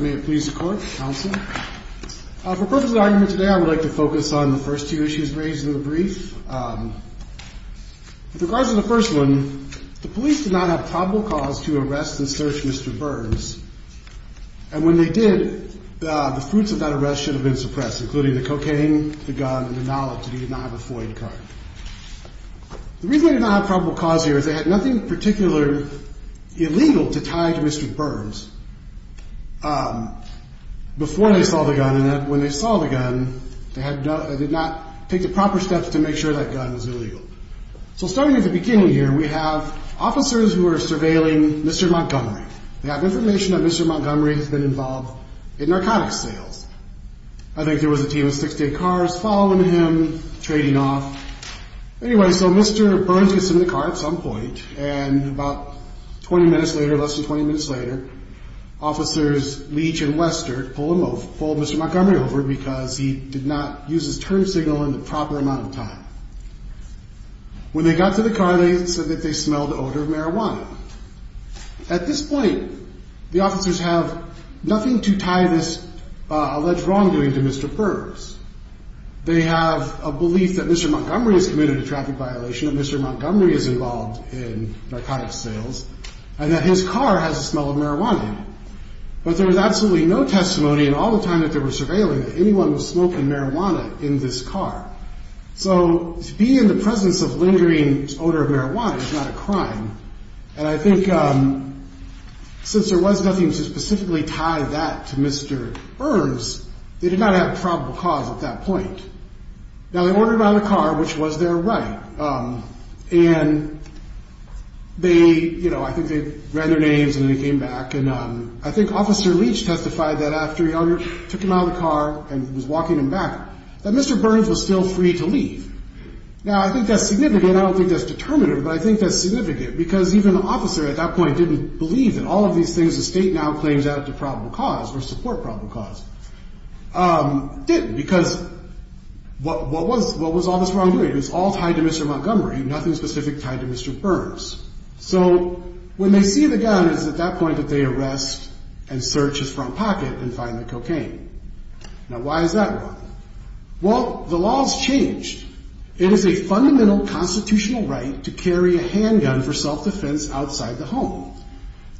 May it please the Court, Counsel. For the purpose of the argument today, I would like to focus on the first two issues raised in the brief. With regards to the first one, the police did not have probable cause to arrest and search Mr. Burns, and when they did, the fruits of that arrest should have been suppressed, including the cocaine, the gun, and the knowledge that he did not have a Floyd card. The reason they did not have probable cause here is they had nothing in particular illegal to tie to Mr. Burns before they saw the gun, and when they saw the gun, they did not take the proper steps to make sure that gun was illegal. So starting at the beginning here, we have officers who are surveilling Mr. Montgomery. They have information that Mr. Montgomery has been involved in narcotics sales. I think there was a team of 68 cars following him, trading off. Anyway, so Mr. Burns gets in the car at some point, and about 20 minutes later, less than 20 minutes later, officers Leach and Western pull Mr. Montgomery over because he did not use his turn signal in the proper amount of time. When they got to the car, they said that they smelled the odor of marijuana. At this point, the officers have nothing to tie this alleged wrongdoing to Mr. Burns. They have a belief that Mr. Montgomery has committed a traffic violation, that Mr. Montgomery is involved in narcotics sales, and that his car has the smell of marijuana in it. But there was absolutely no testimony in all the time that they were surveilling that anyone was smoking marijuana in this car. So to be in the presence of lingering odor of marijuana is not a crime, and I think since there was nothing to specifically tie that to Mr. Burns, they did not have probable cause at that point. Now, they ordered him out of the car, which was their right, and they, you know, I think they read their names and they came back, and I think Officer Leach testified that after he took him out of the car and was walking him back, that Mr. Burns was still free to leave. Now, I think that's significant. I don't think that's determinative, but I think that's significant, because even the officer at that point didn't believe that all of these things the state now claims add to probable cause or support probable cause. Didn't, because what was all this wrongdoing? It was all tied to Mr. Montgomery, nothing specific tied to Mr. Burns. So when they see the gun, it's at that point that they arrest and search his front pocket and find the cocaine. Now, why is that wrong? Well, the law's changed. It is a fundamental constitutional right to carry a handgun for self-defense outside the home.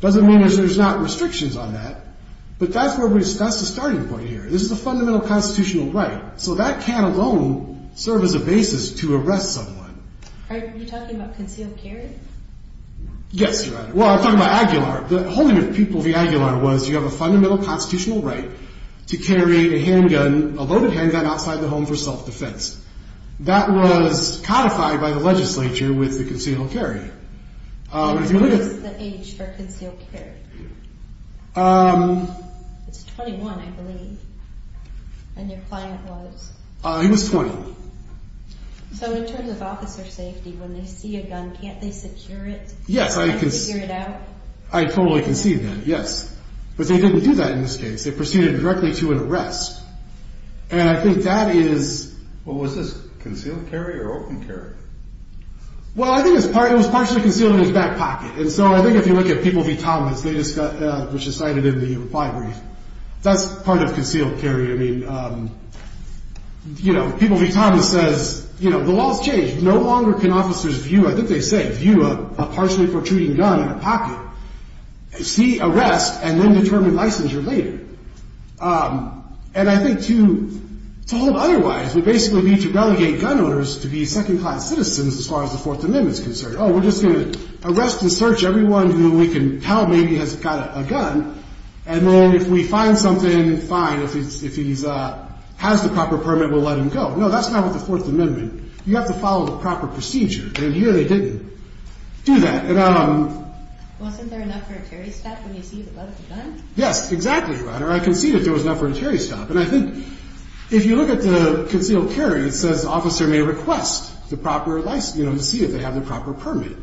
Doesn't mean there's not restrictions on that, but that's the starting point here. This is a fundamental constitutional right, so that can alone serve as a basis to arrest someone. Are you talking about concealed carry? Yes, Your Honor. Well, I'm talking about Aguilar. The holding of people via Aguilar was you have a fundamental constitutional right to carry a loaded handgun outside the home for self-defense. That was codified by the legislature with the concealed carry. What is the age for concealed carry? It's 21, I believe. And your client was? He was 20. So in terms of officer safety, when they see a gun, can't they secure it? Yes, I totally can see that. Yes. But they didn't do that in this case. They proceeded directly to an arrest. And I think that is. Well, was this concealed carry or open carry? Well, I think it was partially concealed in his back pocket. And so I think if you look at People v. Thomas, which is cited in the reply brief, that's part of concealed carry. I mean, you know, People v. Thomas says, you know, the law has changed. No longer can officers view, I think they say, view a partially protruding gun in a pocket, see arrest, and then determine licensure later. And I think to hold him otherwise, we basically need to relegate gun owners to be second-class citizens as far as the Fourth Amendment is concerned. Oh, we're just going to arrest and search everyone who we can tell maybe has got a gun. And then if we find something, fine, if he has the proper permit, we'll let him go. No, that's not what the Fourth Amendment. You have to follow the proper procedure. And here they didn't do that. Wasn't there enough for a carry step when you see the gun? Yes, exactly, Your Honor. I can see that there was enough for a carry step. And I think if you look at the concealed carry, it says officer may request the proper license, you know, to see if they have the proper permit.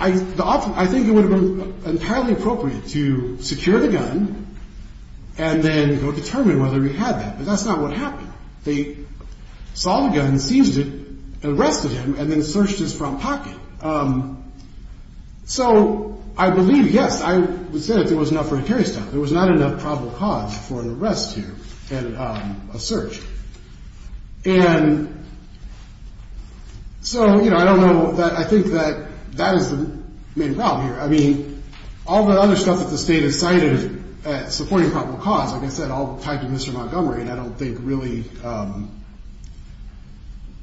I think it would have been entirely appropriate to secure the gun and then go determine whether he had that. But that's not what happened. They saw the gun, seized it, arrested him, and then searched his front pocket. So I believe, yes, I would say that there was enough for a carry step. There was not enough probable cause for an arrest here and a search. And so, you know, I don't know that I think that that is the main problem here. I mean, all the other stuff that the state has cited supporting probable cause, like I said, all tied to Mr. Montgomery, and I don't think really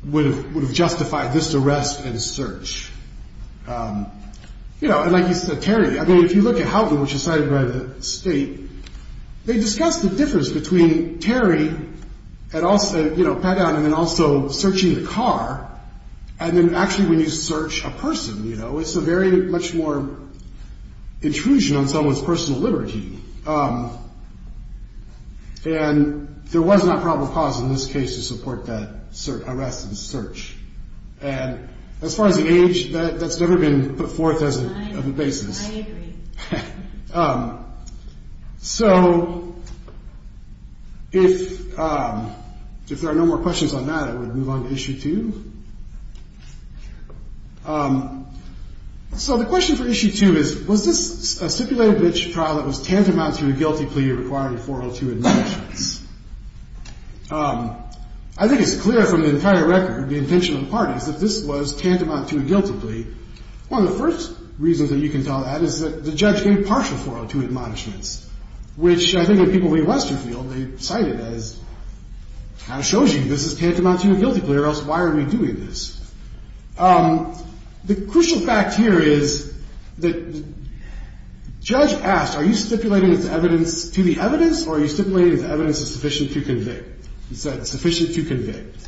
would have justified this arrest and search. You know, and like you said, Terry, I mean, if you look at Houghton, which is cited by the state, they discussed the difference between Terry and also, you know, Pat Down and then also searching the car. And then actually when you search a person, you know, it's a very much more intrusion on someone's personal liberty. And there was not probable cause in this case to support that arrest and search. And as far as the age, that's never been put forth as a basis. I agree. So if there are no more questions on that, I would move on to issue two. So the question for issue two is, was this a stipulated bench trial that was tantamount to a guilty plea requiring 402 admissions? I think it's clear from the entire record, the intentional parties, that this was tantamount to a guilty plea. One of the first reasons that you can tell that is that the judge gave partial 402 admonishments, which I think when people read Westerfield, they cite it as, kind of shows you this is tantamount to a guilty plea or else why are we doing this? The crucial fact here is that the judge asked, are you stipulating this evidence to the evidence or are you stipulating that the evidence is sufficient to convict? He said, sufficient to convict.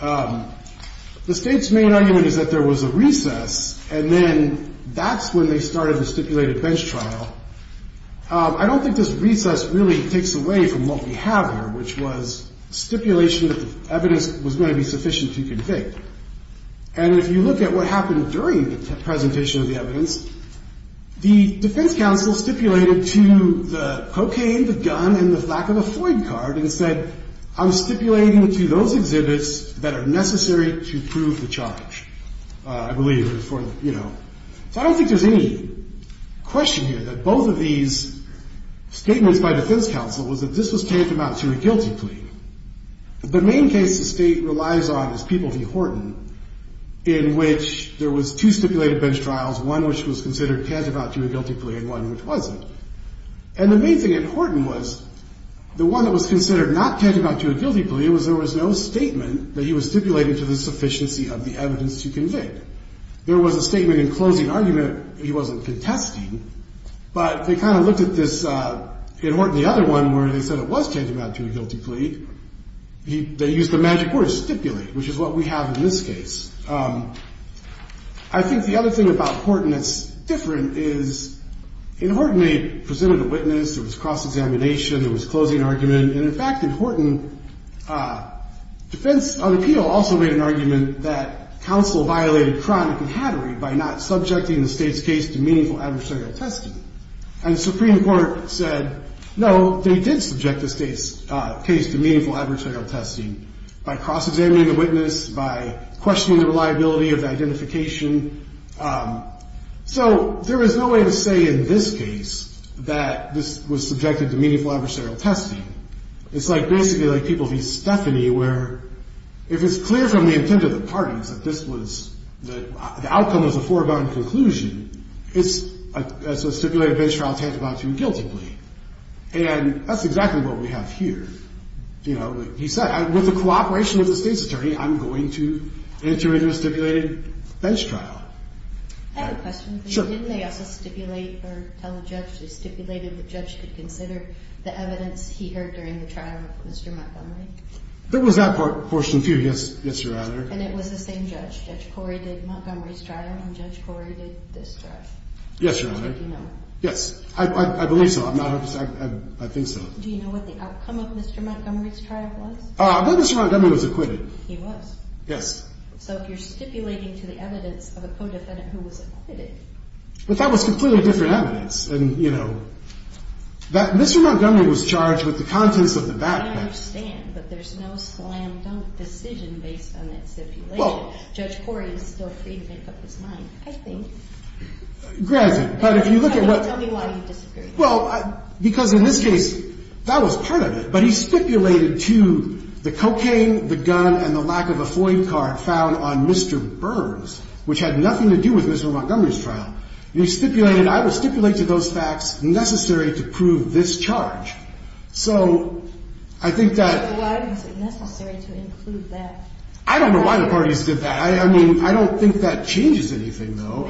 The State's main argument is that there was a recess and then that's when they started the stipulated bench trial. I don't think this recess really takes away from what we have here, which was stipulation that the evidence was going to be sufficient to convict. And if you look at what happened during the presentation of the evidence, the defense counsel stipulated to the cocaine, the gun, and the flack of a Floyd card and said, I'm stipulating to those exhibits that are necessary to prove the charge, I believe. So I don't think there's any question here that both of these statements by defense counsel was that this was tantamount to a guilty plea. The main case the State relies on is People v. Horton, in which there was two stipulated bench trials, one which was considered tantamount to a guilty plea and one which wasn't. And the main thing in Horton was the one that was considered not tantamount to a guilty plea was there was no statement that he was stipulated to the sufficiency of the evidence to convict. There was a statement in closing argument he wasn't contesting, but they kind of looked at this in Horton, the other one where they said it was tantamount to a guilty plea. They used the magic word stipulate, which is what we have in this case. I think the other thing about Horton that's different is in Horton they presented a witness. There was cross-examination. There was closing argument. And in fact, in Horton, defense on appeal also made an argument that counsel violated chronic and hattery by not subjecting the State's case to meaningful adversarial testing. And the Supreme Court said, no, they did subject the State's case to meaningful adversarial testing. By cross-examining the witness, by questioning the reliability of the identification. So there is no way to say in this case that this was subjected to meaningful adversarial testing. It's like basically like people v. Stephanie where if it's clear from the intent of the parties that this was the outcome of the foregone conclusion, it's a stipulated bench trial tantamount to a guilty plea. And that's exactly what we have here. You know, he said, with the cooperation of the State's attorney, I'm going to enter into a stipulated bench trial. I have a question for you. Sure. Didn't they also stipulate or tell the judge? They stipulated the judge could consider the evidence he heard during the trial of Mr. Montgomery? There was that portion too. Yes, Your Honor. And it was the same judge. Judge Corey did Montgomery's trial and Judge Corey did this trial. Yes, Your Honor. Did you know? Yes. I believe so. I think so. Do you know what the outcome of Mr. Montgomery's trial was? I believe Mr. Montgomery was acquitted. He was? Yes. So if you're stipulating to the evidence of a co-defendant who was acquitted. But that was completely different evidence. And, you know, Mr. Montgomery was charged with the contents of the backpack. I understand. But there's no slam dunk decision based on that stipulation. Judge Corey is still free to make up his mind, I think. Granted. Tell me why he disappeared. Well, because in this case, that was part of it. But he stipulated to the cocaine, the gun, and the lack of a FOIA card found on Mr. Burns, which had nothing to do with Mr. Montgomery's trial. He stipulated, I would stipulate to those facts necessary to prove this charge. So I think that. Why was it necessary to include that? I don't know why the parties did that. I mean, I don't think that changes anything, though.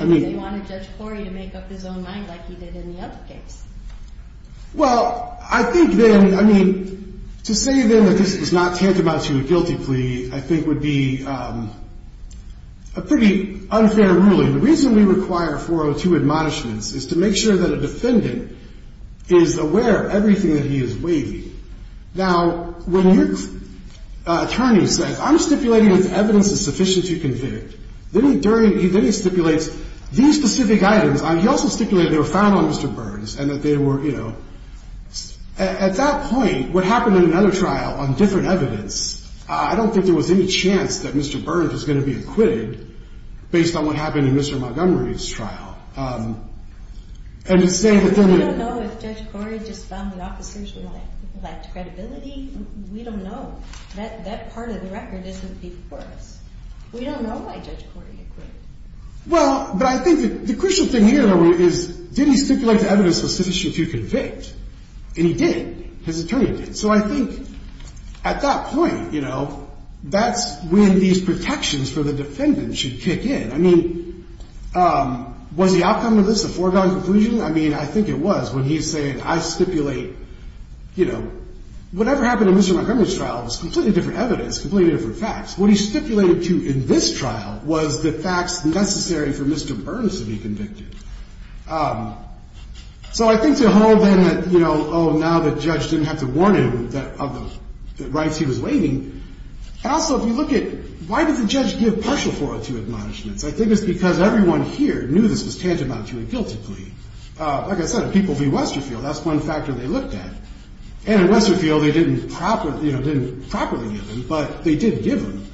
Well, I think then, I mean, to say then that this is not tantamount to a guilty plea, I think would be a pretty unfair ruling. The reason we require 402 admonishments is to make sure that a defendant is aware of everything that he is waiting. Now, when your attorney says, I'm stipulating this evidence is sufficient to convict, then he stipulates these specific items. He also stipulated they were found on Mr. Burns and that they were, you know. At that point, what happened in another trial on different evidence, I don't think there was any chance that Mr. Burns was going to be acquitted based on what happened in Mr. Montgomery's trial. And to say that then. We don't know if Judge Corey just found the officers with lacked credibility. We don't know. That part of the record isn't before us. We don't know why Judge Corey acquitted. Well, but I think the crucial thing here is, did he stipulate the evidence was sufficient to convict? And he did. His attorney did. So I think at that point, you know, that's when these protections for the defendant should kick in. I mean, was the outcome of this a foregone conclusion? I mean, I think it was when he's saying, I stipulate, you know. Whatever happened in Mr. Montgomery's trial was completely different evidence, completely different facts. What he stipulated to in this trial was the facts necessary for Mr. Burns to be convicted. So I think to hold then that, you know, oh, now the judge didn't have to warn him of the rights he was waiting. And also, if you look at why did the judge give partial 402 admonishments? I think it's because everyone here knew this was tantamount to a guilty plea. Like I said, people view Westerfield. That's one factor they looked at. And in Westerfield, they didn't properly, you know, didn't properly give him, but they did give him.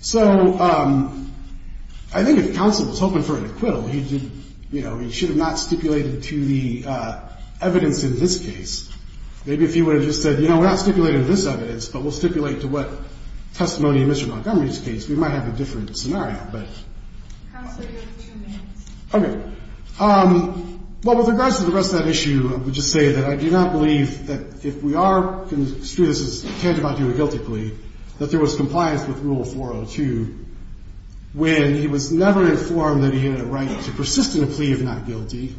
So I think if counsel was hoping for an acquittal, he did, you know, he should have not stipulated to the evidence in this case. Maybe if he would have just said, you know, we're not stipulating this evidence, but we'll stipulate to what testimony in Mr. Montgomery's case, we might have a different scenario, but. Counsel, you have two minutes. Okay. Well, with regards to the rest of that issue, I would just say that I do not believe that if we are construing this as tantamount to a guilty plea, that there was compliance with Rule 402 when he was never informed that he had a right to persist in a plea if not guilty.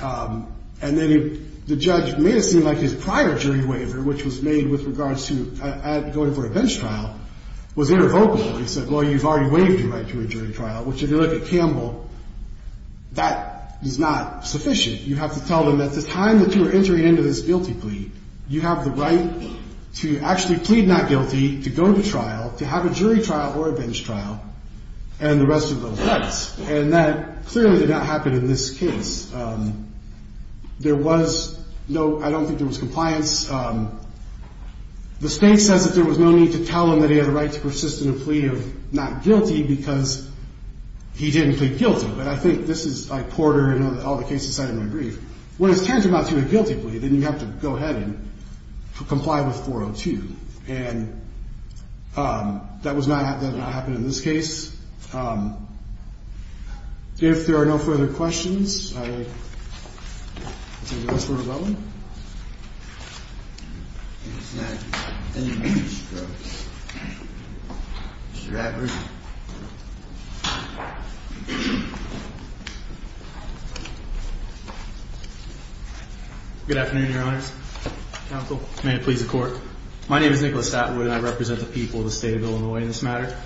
And then the judge made it seem like his prior jury waiver, which was made with regards to going for a bench trial, was irrevocable. He said, well, you've already waived your right to a jury trial, which if you look at Campbell, that is not sufficient. You have to tell them that at the time that you were entering into this guilty plea, you have the right to actually plead not guilty, to go to trial, to have a jury trial or a bench trial, and the rest of those rights. And that clearly did not happen in this case. There was no, I don't think there was compliance. The state says that there was no need to tell him that he had the right to persist in a plea of not guilty because he didn't plead guilty. But I think this is like Porter and all the cases cited in my brief. When it's tantamount to a guilty plea, then you have to go ahead and comply with 402. And that was not, that did not happen in this case. If there are no further questions, I will take the rest of the time. Mr. Atwood. Good afternoon, Your Honors. Counsel. May it please the Court. My name is Nicholas Atwood and I represent the people of the state of Illinois in this matter.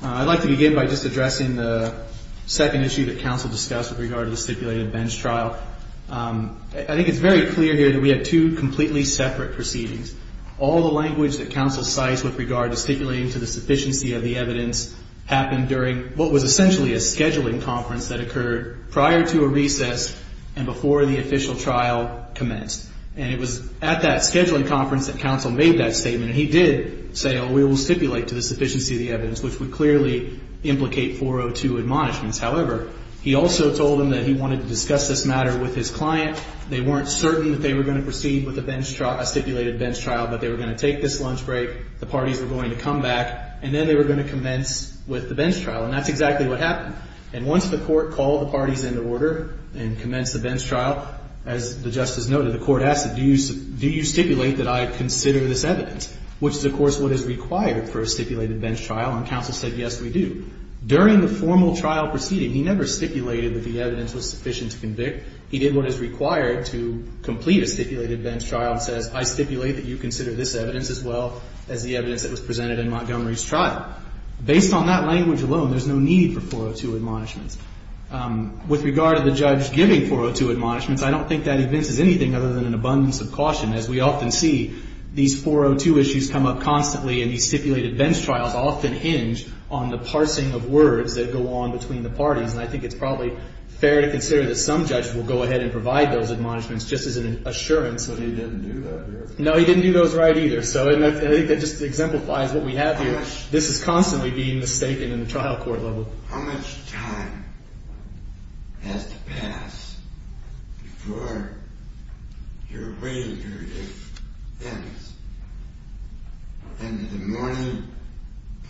I'd like to begin by just addressing the second issue that counsel discussed with regard to the stipulated bench trial. I think it's very clear here that we have two completely separate proceedings. All the language that counsel cites with regard to stipulating to the sufficiency of the evidence happened during what was essentially a scheduling conference that occurred prior to a recess and before the official trial commenced. And it was at that scheduling conference that counsel made that statement. And he did say, oh, we will stipulate to the sufficiency of the evidence, which would clearly implicate 402 admonishments. However, he also told them that he wanted to discuss this matter with his client. They weren't certain that they were going to proceed with a bench trial, a stipulated bench trial, but they were going to take this lunch break, the parties were going to come back, and then they were going to commence with the bench trial. And that's exactly what happened. And once the Court called the parties into order and commenced the bench trial, as the Justice noted, the Court asked, do you stipulate that I consider this evidence? Which is, of course, what is required for a stipulated bench trial. And counsel said, yes, we do. During the formal trial proceeding, he never stipulated that the evidence was sufficient to convict. He did what is required to complete a stipulated bench trial and says, I stipulate that you consider this evidence as well as the evidence that was presented in Montgomery's trial. Based on that language alone, there's no need for 402 admonishments. With regard to the judge giving 402 admonishments, I don't think that evinces anything other than an abundance of caution. As we often see, these 402 issues come up constantly, and these stipulated bench trials often hinge on the parsing of words that go on between the parties. And I think it's probably fair to consider that some judges will go ahead and provide those admonishments just as an assurance. But he didn't do that here. No, he didn't do those right either. So I think that just exemplifies what we have here. This is constantly being mistaken in the trial court level. So how much time has to pass before your waiting period ends? End of the morning,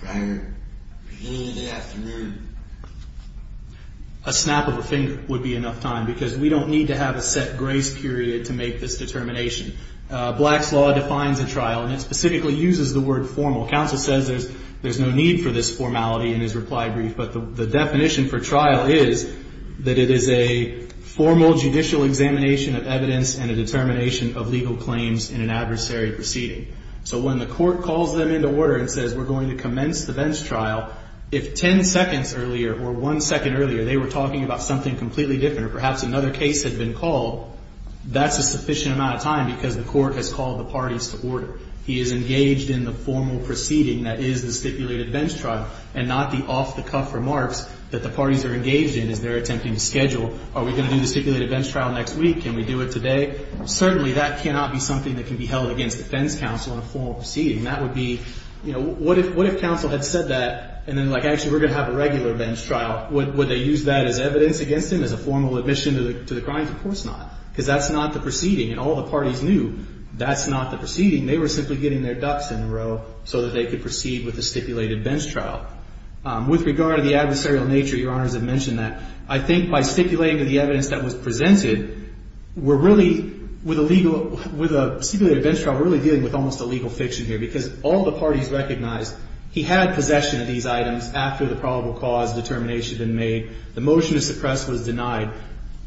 prior beginning of the afternoon? A snap of a finger would be enough time because we don't need to have a set grace period to make this determination. Black's law defines a trial, and it specifically uses the word formal. Counsel says there's no need for this formality in his reply brief, but the definition for trial is that it is a formal judicial examination of evidence and a determination of legal claims in an adversary proceeding. So when the court calls them into order and says we're going to commence the bench trial, if ten seconds earlier or one second earlier they were talking about something completely different or perhaps another case had been called, that's a sufficient amount of time because the court has called the parties to order. He is engaged in the formal proceeding that is the stipulated bench trial and not the off-the-cuff remarks that the parties are engaged in as they're attempting to schedule. Are we going to do the stipulated bench trial next week? Can we do it today? Certainly that cannot be something that can be held against defense counsel in a formal proceeding. That would be, you know, what if counsel had said that and then like actually we're going to have a regular bench trial? Would they use that as evidence against him as a formal admission to the crimes? Of course not because that's not the proceeding, and all the parties knew that's not the proceeding. They were simply getting their ducks in a row so that they could proceed with the stipulated bench trial. With regard to the adversarial nature, Your Honors have mentioned that. I think by stipulating the evidence that was presented, we're really, with a legal, with a stipulated bench trial we're really dealing with almost a legal fiction here because all the parties recognized he had possession of these items after the probable cause determination had been made. The motion to suppress was denied.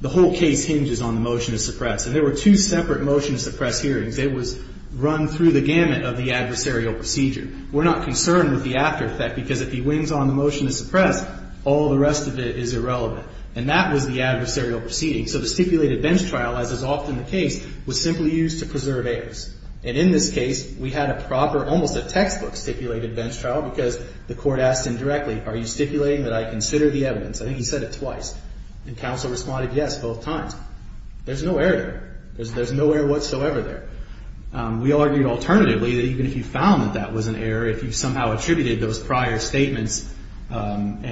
The whole case hinges on the motion to suppress, and there were two separate motion to suppress hearings. It was run through the gamut of the adversarial procedure. We're not concerned with the after effect because if he wins on the motion to suppress, all the rest of it is irrelevant. And that was the adversarial proceeding. So the stipulated bench trial, as is often the case, was simply used to preserve errors. And in this case, we had a proper, almost a textbook stipulated bench trial because the court asked him directly, are you stipulating that I consider the evidence? I think he said it twice. And counsel responded yes both times. There's no error there. There's no error whatsoever there. We argued alternatively that even if you found that that was an error, if you somehow attributed those prior statements and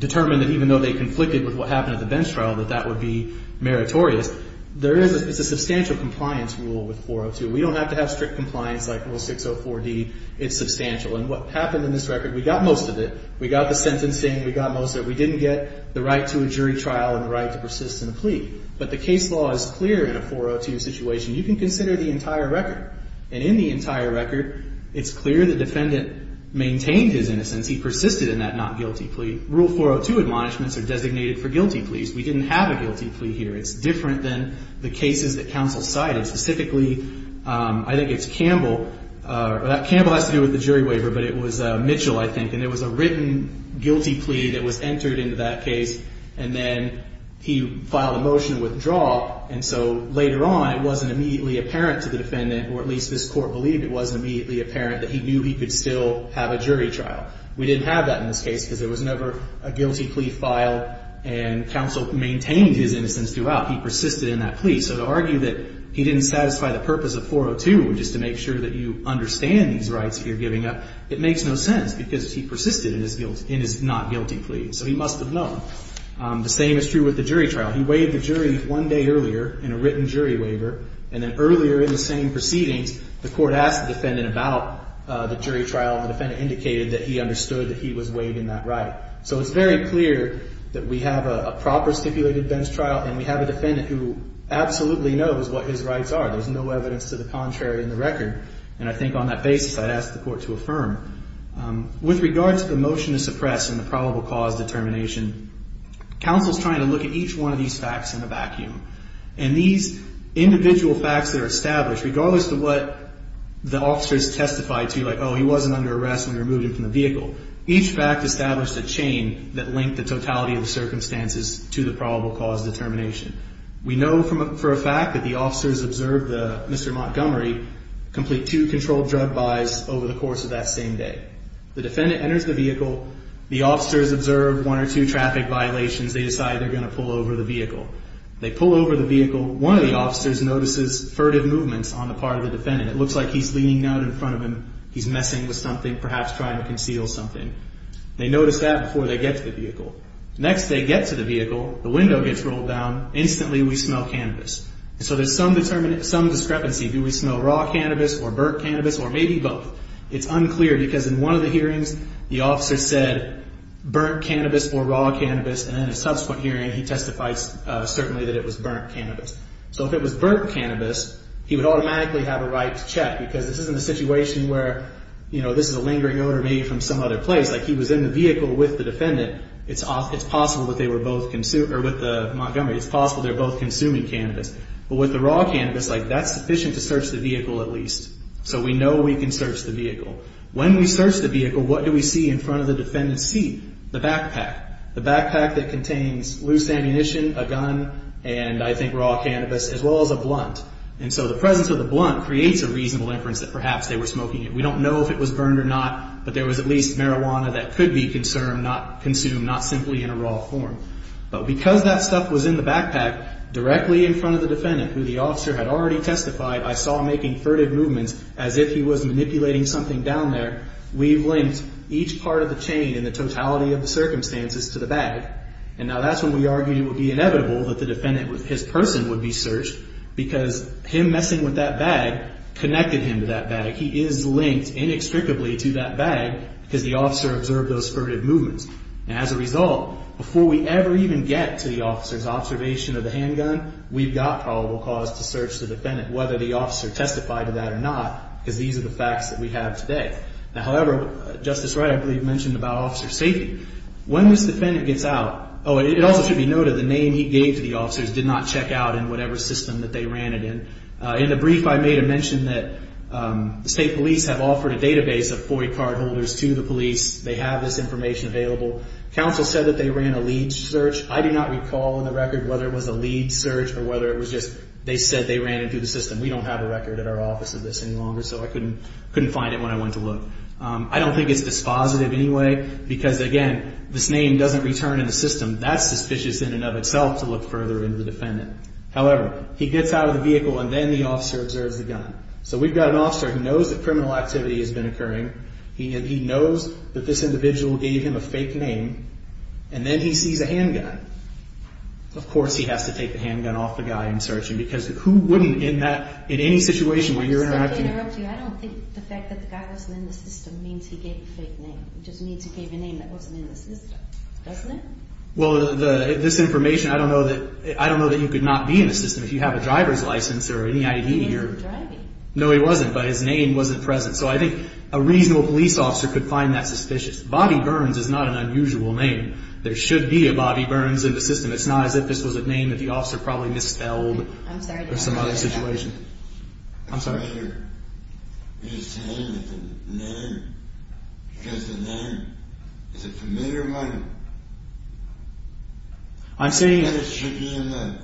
determined that even though they conflicted with what happened at the bench trial that that would be meritorious, there is a substantial compliance rule with 402. We don't have to have strict compliance like Rule 604D. It's substantial. And what happened in this record, we got most of it. We got the sentencing. We got most of it. We didn't get the right to a jury trial and the right to persist in a plea. But the case law is clear in a 402 situation. You can consider the entire record. And in the entire record, it's clear the defendant maintained his innocence. He persisted in that not guilty plea. Rule 402 admonishments are designated for guilty pleas. We didn't have a guilty plea here. It's different than the cases that counsel cited. Specifically, I think it's Campbell. Campbell has to do with the jury waiver, but it was Mitchell, I think. And there was a written guilty plea that was entered into that case. And then he filed a motion to withdraw. And so later on, it wasn't immediately apparent to the defendant, or at least this Court believed it wasn't immediately apparent, that he knew he could still have a jury trial. We didn't have that in this case because there was never a guilty plea filed and counsel maintained his innocence throughout. He persisted in that plea. So to argue that he didn't satisfy the purpose of 402, which is to make sure that you understand these rights that you're giving up, it makes no sense because he persisted in his not guilty plea. So he must have known. The same is true with the jury trial. He waived the jury one day earlier in a written jury waiver. And then earlier in the same proceedings, the Court asked the defendant about the jury trial, and the defendant indicated that he understood that he was waiving that right. So it's very clear that we have a proper stipulated bench trial and we have a defendant who absolutely knows what his rights are. There's no evidence to the contrary in the record. And I think on that basis, I'd ask the Court to affirm. With regard to the motion to suppress in the probable cause determination, counsel's trying to look at each one of these facts in a vacuum. And these individual facts that are established, regardless of what the officers testified to, like, oh, he wasn't under arrest when we removed him from the vehicle, each fact established a chain that linked the totality of the circumstances to the probable cause determination. We know for a fact that the officers observed Mr. Montgomery complete two controlled drug buys over the course of that same day. The defendant enters the vehicle. The officers observed one or two traffic violations. They decide they're going to pull over the vehicle. They pull over the vehicle. One of the officers notices furtive movements on the part of the defendant. It looks like he's leaning out in front of him. He's messing with something, perhaps trying to conceal something. They notice that before they get to the vehicle. Next, they get to the vehicle. The window gets rolled down. Instantly, we smell cannabis. So there's some discrepancy. Do we smell raw cannabis or burnt cannabis or maybe both? It's unclear because in one of the hearings, the officer said burnt cannabis or raw cannabis, and then in a subsequent hearing, he testified certainly that it was burnt cannabis. So if it was burnt cannabis, he would automatically have a right to check because this isn't a situation where, you know, this is a lingering odor maybe from some other place. Like, he was in the vehicle with the defendant. It's possible that they were both consuming, or with Montgomery, it's possible they were both consuming cannabis. But with the raw cannabis, like, that's sufficient to search the vehicle at least. So we know we can search the vehicle. When we search the vehicle, what do we see in front of the defendant's seat? The backpack. The backpack that contains loose ammunition, a gun, and I think raw cannabis as well as a blunt. And so the presence of the blunt creates a reasonable inference that perhaps they were smoking it. We don't know if it was burned or not, but there was at least marijuana that could be consumed, not simply in a raw form. But because that stuff was in the backpack, directly in front of the defendant, who the officer had already testified, I saw him making furtive movements as if he was manipulating something down there. We've linked each part of the chain in the totality of the circumstances to the bag. And now that's when we argue it would be inevitable that the defendant, his person would be searched because him messing with that bag connected him to that bag. He is linked inextricably to that bag because the officer observed those furtive movements. And as a result, before we ever even get to the officer's observation of the handgun, we've got probable cause to search the defendant, whether the officer testified to that or not, because these are the facts that we have today. Now, however, Justice Wright, I believe, mentioned about officer safety. When this defendant gets out, oh, it also should be noted, the name he gave to the officers did not check out in whatever system that they ran it in. In the brief I made, I mentioned that the state police have offered a database of FOIA card holders to the police. They have this information available. Counsel said that they ran a lead search. I do not recall in the record whether it was a lead search or whether it was just they said they ran it through the system. We don't have a record at our office of this any longer, so I couldn't find it when I went to look. I don't think it's dispositive anyway because, again, this name doesn't return in the system. That's suspicious in and of itself to look further into the defendant. However, he gets out of the vehicle and then the officer observes the gun. So we've got an officer who knows that criminal activity has been occurring. He knows that this individual gave him a fake name. And then he sees a handgun. Of course he has to take the handgun off the guy in search. Because who wouldn't in that, in any situation where you're interacting. I don't think the fact that the guy wasn't in the system means he gave a fake name. It just means he gave a name that wasn't in the system. Doesn't it? Well, this information, I don't know that, I don't know that you could not be in the system if you have a driver's license or any ID. He wasn't driving. No, he wasn't, but his name wasn't present. So I think a reasonable police officer could find that suspicious. Bobby Burns is not an unusual name. There should be a Bobby Burns in the system. It's not as if this was a name that the officer probably misspelled in some other situation. I'm sorry. The writer is saying that the name, because the name is a familiar one. I'm saying that it should be in the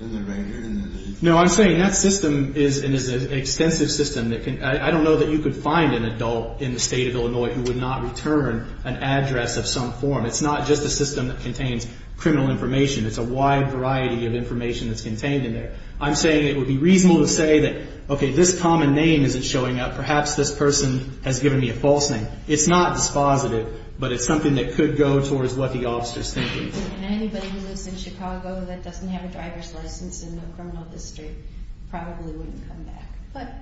writer, in the name. No, I'm saying that system is an extensive system. I don't know that you could find an adult in the state of Illinois who would not return an address of some form. It's not just a system that contains criminal information. It's a wide variety of information that's contained in there. I'm saying it would be reasonable to say that, okay, this common name isn't showing up. Perhaps this person has given me a false name. It's not dispositive, but it's something that could go towards what the officer's thinking. Anybody who lives in Chicago that doesn't have a driver's license in the criminal district probably wouldn't come back. But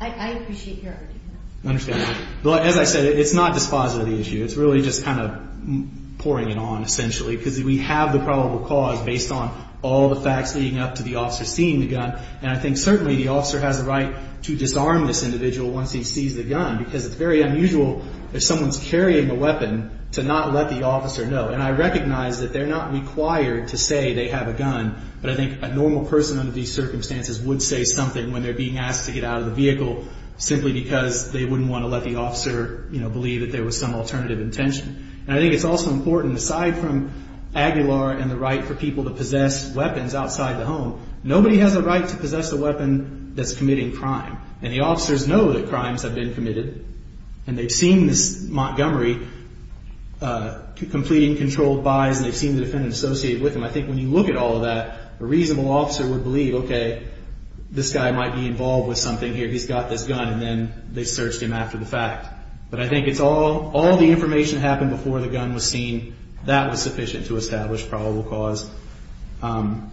I appreciate your argument. I understand that. But as I said, it's not dispositive of the issue. It's really just kind of pouring it on, essentially, because we have the probable cause based on all the facts leading up to the officer seeing the gun. And I think certainly the officer has a right to disarm this individual once he sees the gun, because it's very unusual if someone's carrying a weapon to not let the officer know. And I recognize that they're not required to say they have a gun, but I think a normal person under these circumstances would say something when they're being asked to get out of the vehicle simply because they wouldn't want to let the officer, you know, believe that there was some alternative intention. And I think it's also important, aside from Aguilar and the right for people to possess weapons outside the home, nobody has a right to possess a weapon that's committing crime. And the officers know that crimes have been committed, and they've seen this Montgomery completing controlled buys, and they've seen the defendant associated with him. I think when you look at all of that, a reasonable officer would believe, okay, this guy might be involved with something here. He's got this gun. And then they searched him after the fact. But I think it's all, all the information happened before the gun was seen. That was sufficient to establish probable cause. Thank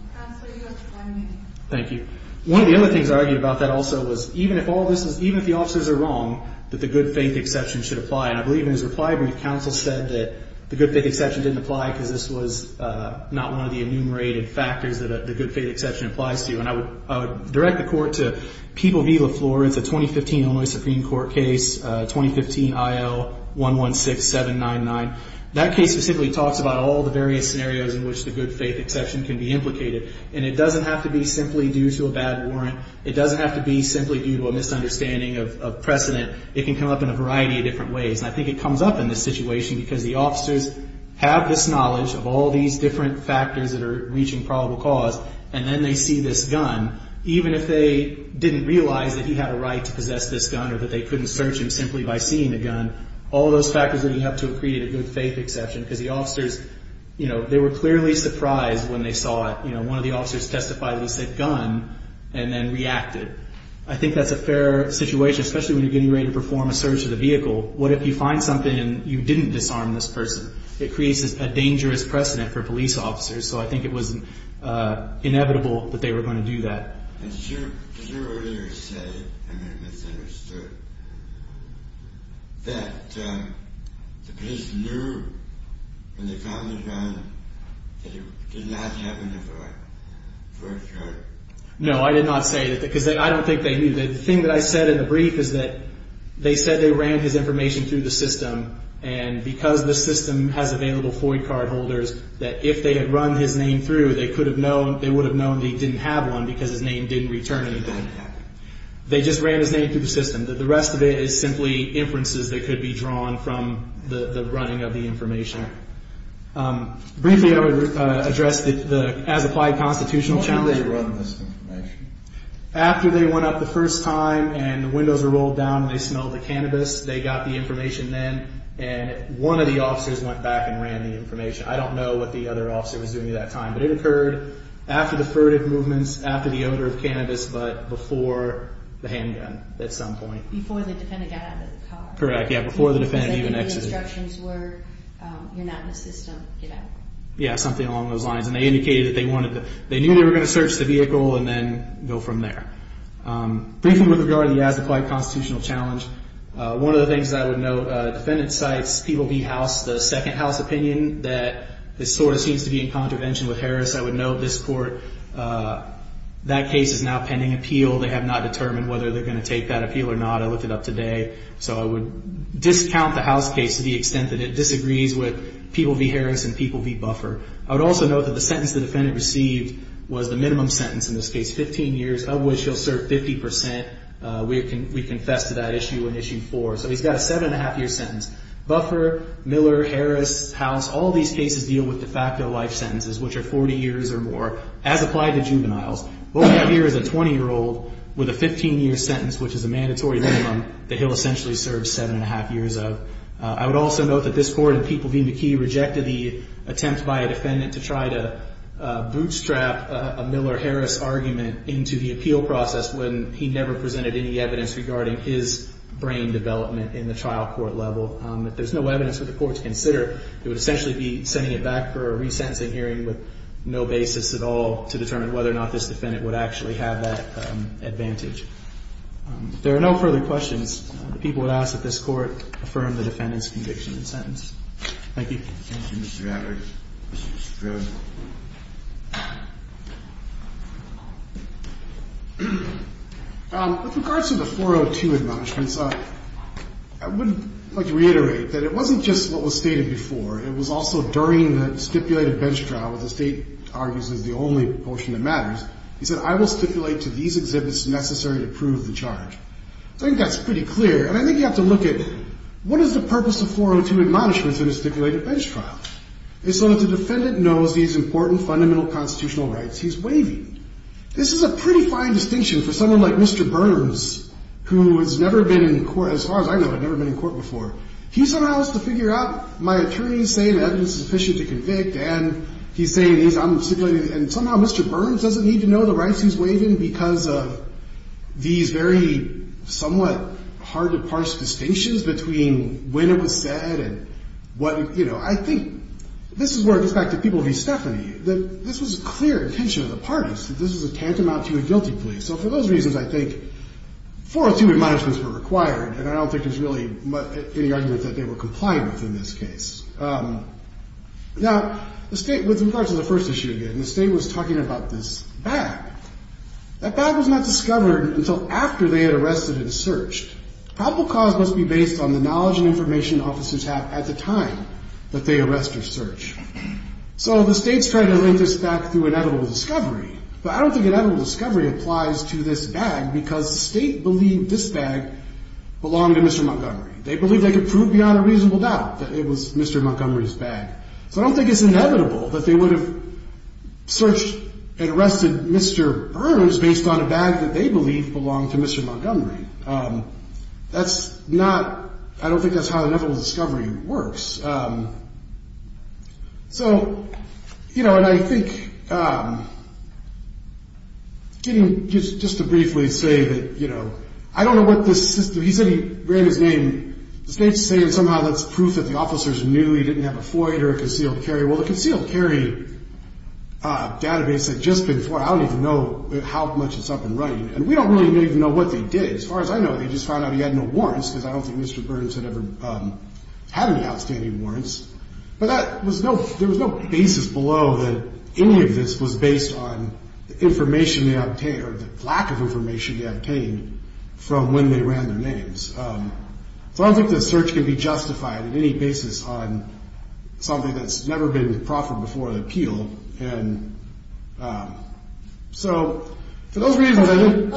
you. One of the other things I argued about that also was even if all this is, even if the officers are wrong, that the good faith exception should apply. And I believe in his reply brief, counsel said that the good faith exception didn't apply because this was not one of the enumerated factors that the good faith exception applies to. And I would direct the court to People v. La Florence, a 2015 Illinois Supreme Court case, 2015 IL 116799. That case specifically talks about all the various scenarios in which the good faith exception can be implicated. And it doesn't have to be simply due to a bad warrant. It doesn't have to be simply due to a misunderstanding of precedent. It can come up in a variety of different ways. And I think it comes up in this situation because the officers have this knowledge of all these different factors that are reaching probable cause. And then they see this gun. Even if they didn't realize that he had a right to possess this gun or that they couldn't search him simply by seeing the gun, all those factors leading up to a created a good faith exception. Because the officers, you know, they were clearly surprised when they saw it. You know, one of the officers testified that he said gun. And then reacted. I think that's a fair situation, especially when you're getting ready to perform a search of the vehicle. What if you find something and you didn't disarm this person? It creates a dangerous precedent for police officers. So I think it was inevitable that they were going to do that. Sure. No, I did not say that because I don't think they knew. The thing that I said in the brief is that they said they ran his information through the system. And because the system has available Floyd card holders that if they had run his name through, they could have known, they would have known that he didn't have one because his name didn't return anything. They just ran his name through the system. The rest of it is simply inferences that could be drawn from the running of the information. Briefly, I would address the as applied constitutional challenge. After they went up the first time and the windows were rolled down and they smelled the cannabis, they got the information then and one of the officers went back and ran the information. I don't know what the other officer was doing at that time, but it occurred after the furtive movements after the odor of cannabis, but before the handgun at some point, before the defendant got out of the car. Correct. Yeah. Before the defendant even exits, where you're not in the system, get out. Yeah. Something along those lines. And they indicated that they wanted to, they knew they were going to search the vehicle and then go from there. Briefly with regard to the as applied constitutional challenge. One of the things that I would note, defendant sites, people beat house the second house opinion that this sort of seems to be in contravention with Harris. I would know this court that case is now pending appeal. They have not determined whether they're going to take that appeal or not. I looked it up today. So I would discount the house case to the extent that it disagrees with people be Harris and people be buffer. I would also know that the sentence the defendant received was the minimum sentence in this case, 15 years of which he'll serve 50%. We can, we confessed to that issue in issue four. So he's got a seven and a half year sentence, buffer Miller, Harris house, all these cases deal with the fact of life sentences, which are 40 years or more as applied to juveniles. What we have here is a 20 year old with a 15 year sentence, which is a mandatory minimum that he'll essentially serve seven and a half years of. I would also note that this court and people being the key rejected the attempt by a defendant to try to bootstrap a Miller Harris argument into the appeal process. When he never presented any evidence regarding his brain development in the trial court level. If there's no evidence for the court to consider, it would essentially be sending it back for a resentencing hearing with no basis at all to determine whether or not this defendant would actually have that advantage. There are no further questions. The people would ask that this court affirmed the defendant's conviction in sentence. Thank you. With regards to the 402 admonishments, I would like to reiterate that it wasn't just what was stated before. It was also during the stipulated bench trial, the state argues is the only portion that matters. He said, I will stipulate to these exhibits necessary to prove the charge. I think that's pretty clear. And I think you have to look at what is the purpose of 402 admonishments in a stipulated bench trial is so that the defendant knows these important fundamental constitutional rights. He's waving. This is a pretty fine distinction for someone like Mr. Burns, who has never been in court as far as I know, I've never been in court before. He somehow has to figure out my attorney saying evidence is sufficient to convict. And he's saying these, I'm stipulated and somehow Mr. Burns doesn't need to know the rights he's waving because of these very somewhat hard to parse distinctions between when it was said and what, you know, I think this is where it gets back to people who Stephanie, that this was a clear intention of the parties. This is a tantamount to a guilty plea. So for those reasons, I think 402 admonishments were required. And I don't think there's really any argument that they were complying with in this case. Now the state with regards to the first issue again, the state was talking about this bag. That bag was not discovered until after they had arrested and searched probable cause must be based on the knowledge and information officers have at the time that they arrest or search. So the state's trying to link this back through an edible discovery, but I don't think an edible discovery applies to this bag because the state believed this bag belonged to Mr. Montgomery. They believe they could prove beyond a reasonable doubt that it was Mr. Montgomery's bag. So I don't think it's inevitable that they would have searched and arrested. Mr. Burns based on a bag that they believe belonged to Mr. Montgomery. That's not, I don't think that's how the devil's discovery works. So, you know, and I think just to briefly say that, you know, I don't know what this system, he said he ran his name, the state's saying somehow that's proof that the officers knew he didn't have a Floyd or a concealed carry. Well, the concealed carry database had just been for, I don't even know how much it's up and running and we don't really even know what they did. As far as I know, they just found out he had no warrants because I don't think Mr. Burns had ever had any outstanding warrants, but that was no, there was no basis below that any of this was based on the information they obtained or the lack of information they obtained from when they ran their names. So I don't think the search can be justified in any basis on something that's never been proffered before the appeal. And so for those reasons, I didn't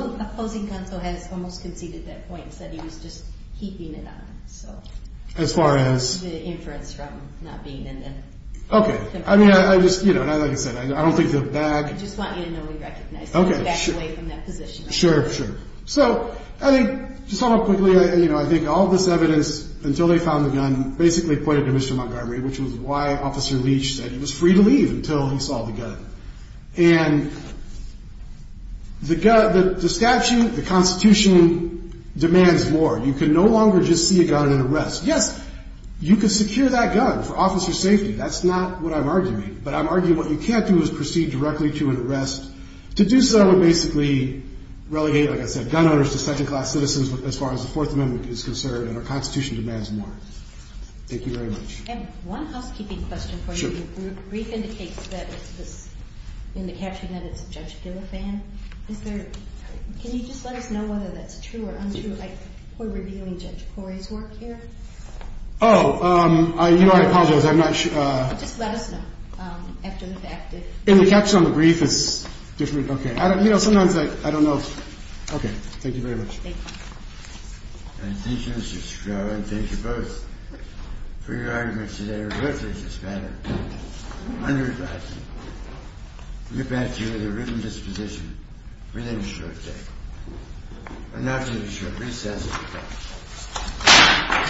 almost conceded that points that he was just keeping it on. So as far as Okay. I mean, I just, you know, and I, like I said, I don't think the bag, okay. Sure. Sure. Sure. So I think just talk about quickly, you know, I think all this evidence until they found the gun basically pointed to Mr. Montgomery, which was why officer Leach said he was free to leave until he saw the gun and the gut, the statute, the constitution demands more. You can no longer just see a gun in an arrest. Yes, you can secure that gun for officer safety. That's not what I'm arguing, but I'm arguing what you can't do is proceed directly to an arrest to do. So I would basically relegate, like I said, gun owners to second class citizens, as far as the fourth amendment is concerned and our constitution demands more. Thank you very much. One housekeeping question for you. Brief indicates that it's this in the caption that it's a judge. Do a fan. Is there, can you just let us know whether that's true or untrue? Like we're reviewing judge Corey's work here. Oh, um, I, you know, I apologize. I'm not sure. Uh, just let us know. Um, after the fact in the caption on the brief is different. Okay. I don't, you know, sometimes I, I don't know. Okay. Thank you very much. Thank you. And thank you. I'm not going to be short recess. Okay. Thank you. Thank you. Thank you. Thank you. Thank you. Thank you. Thank you.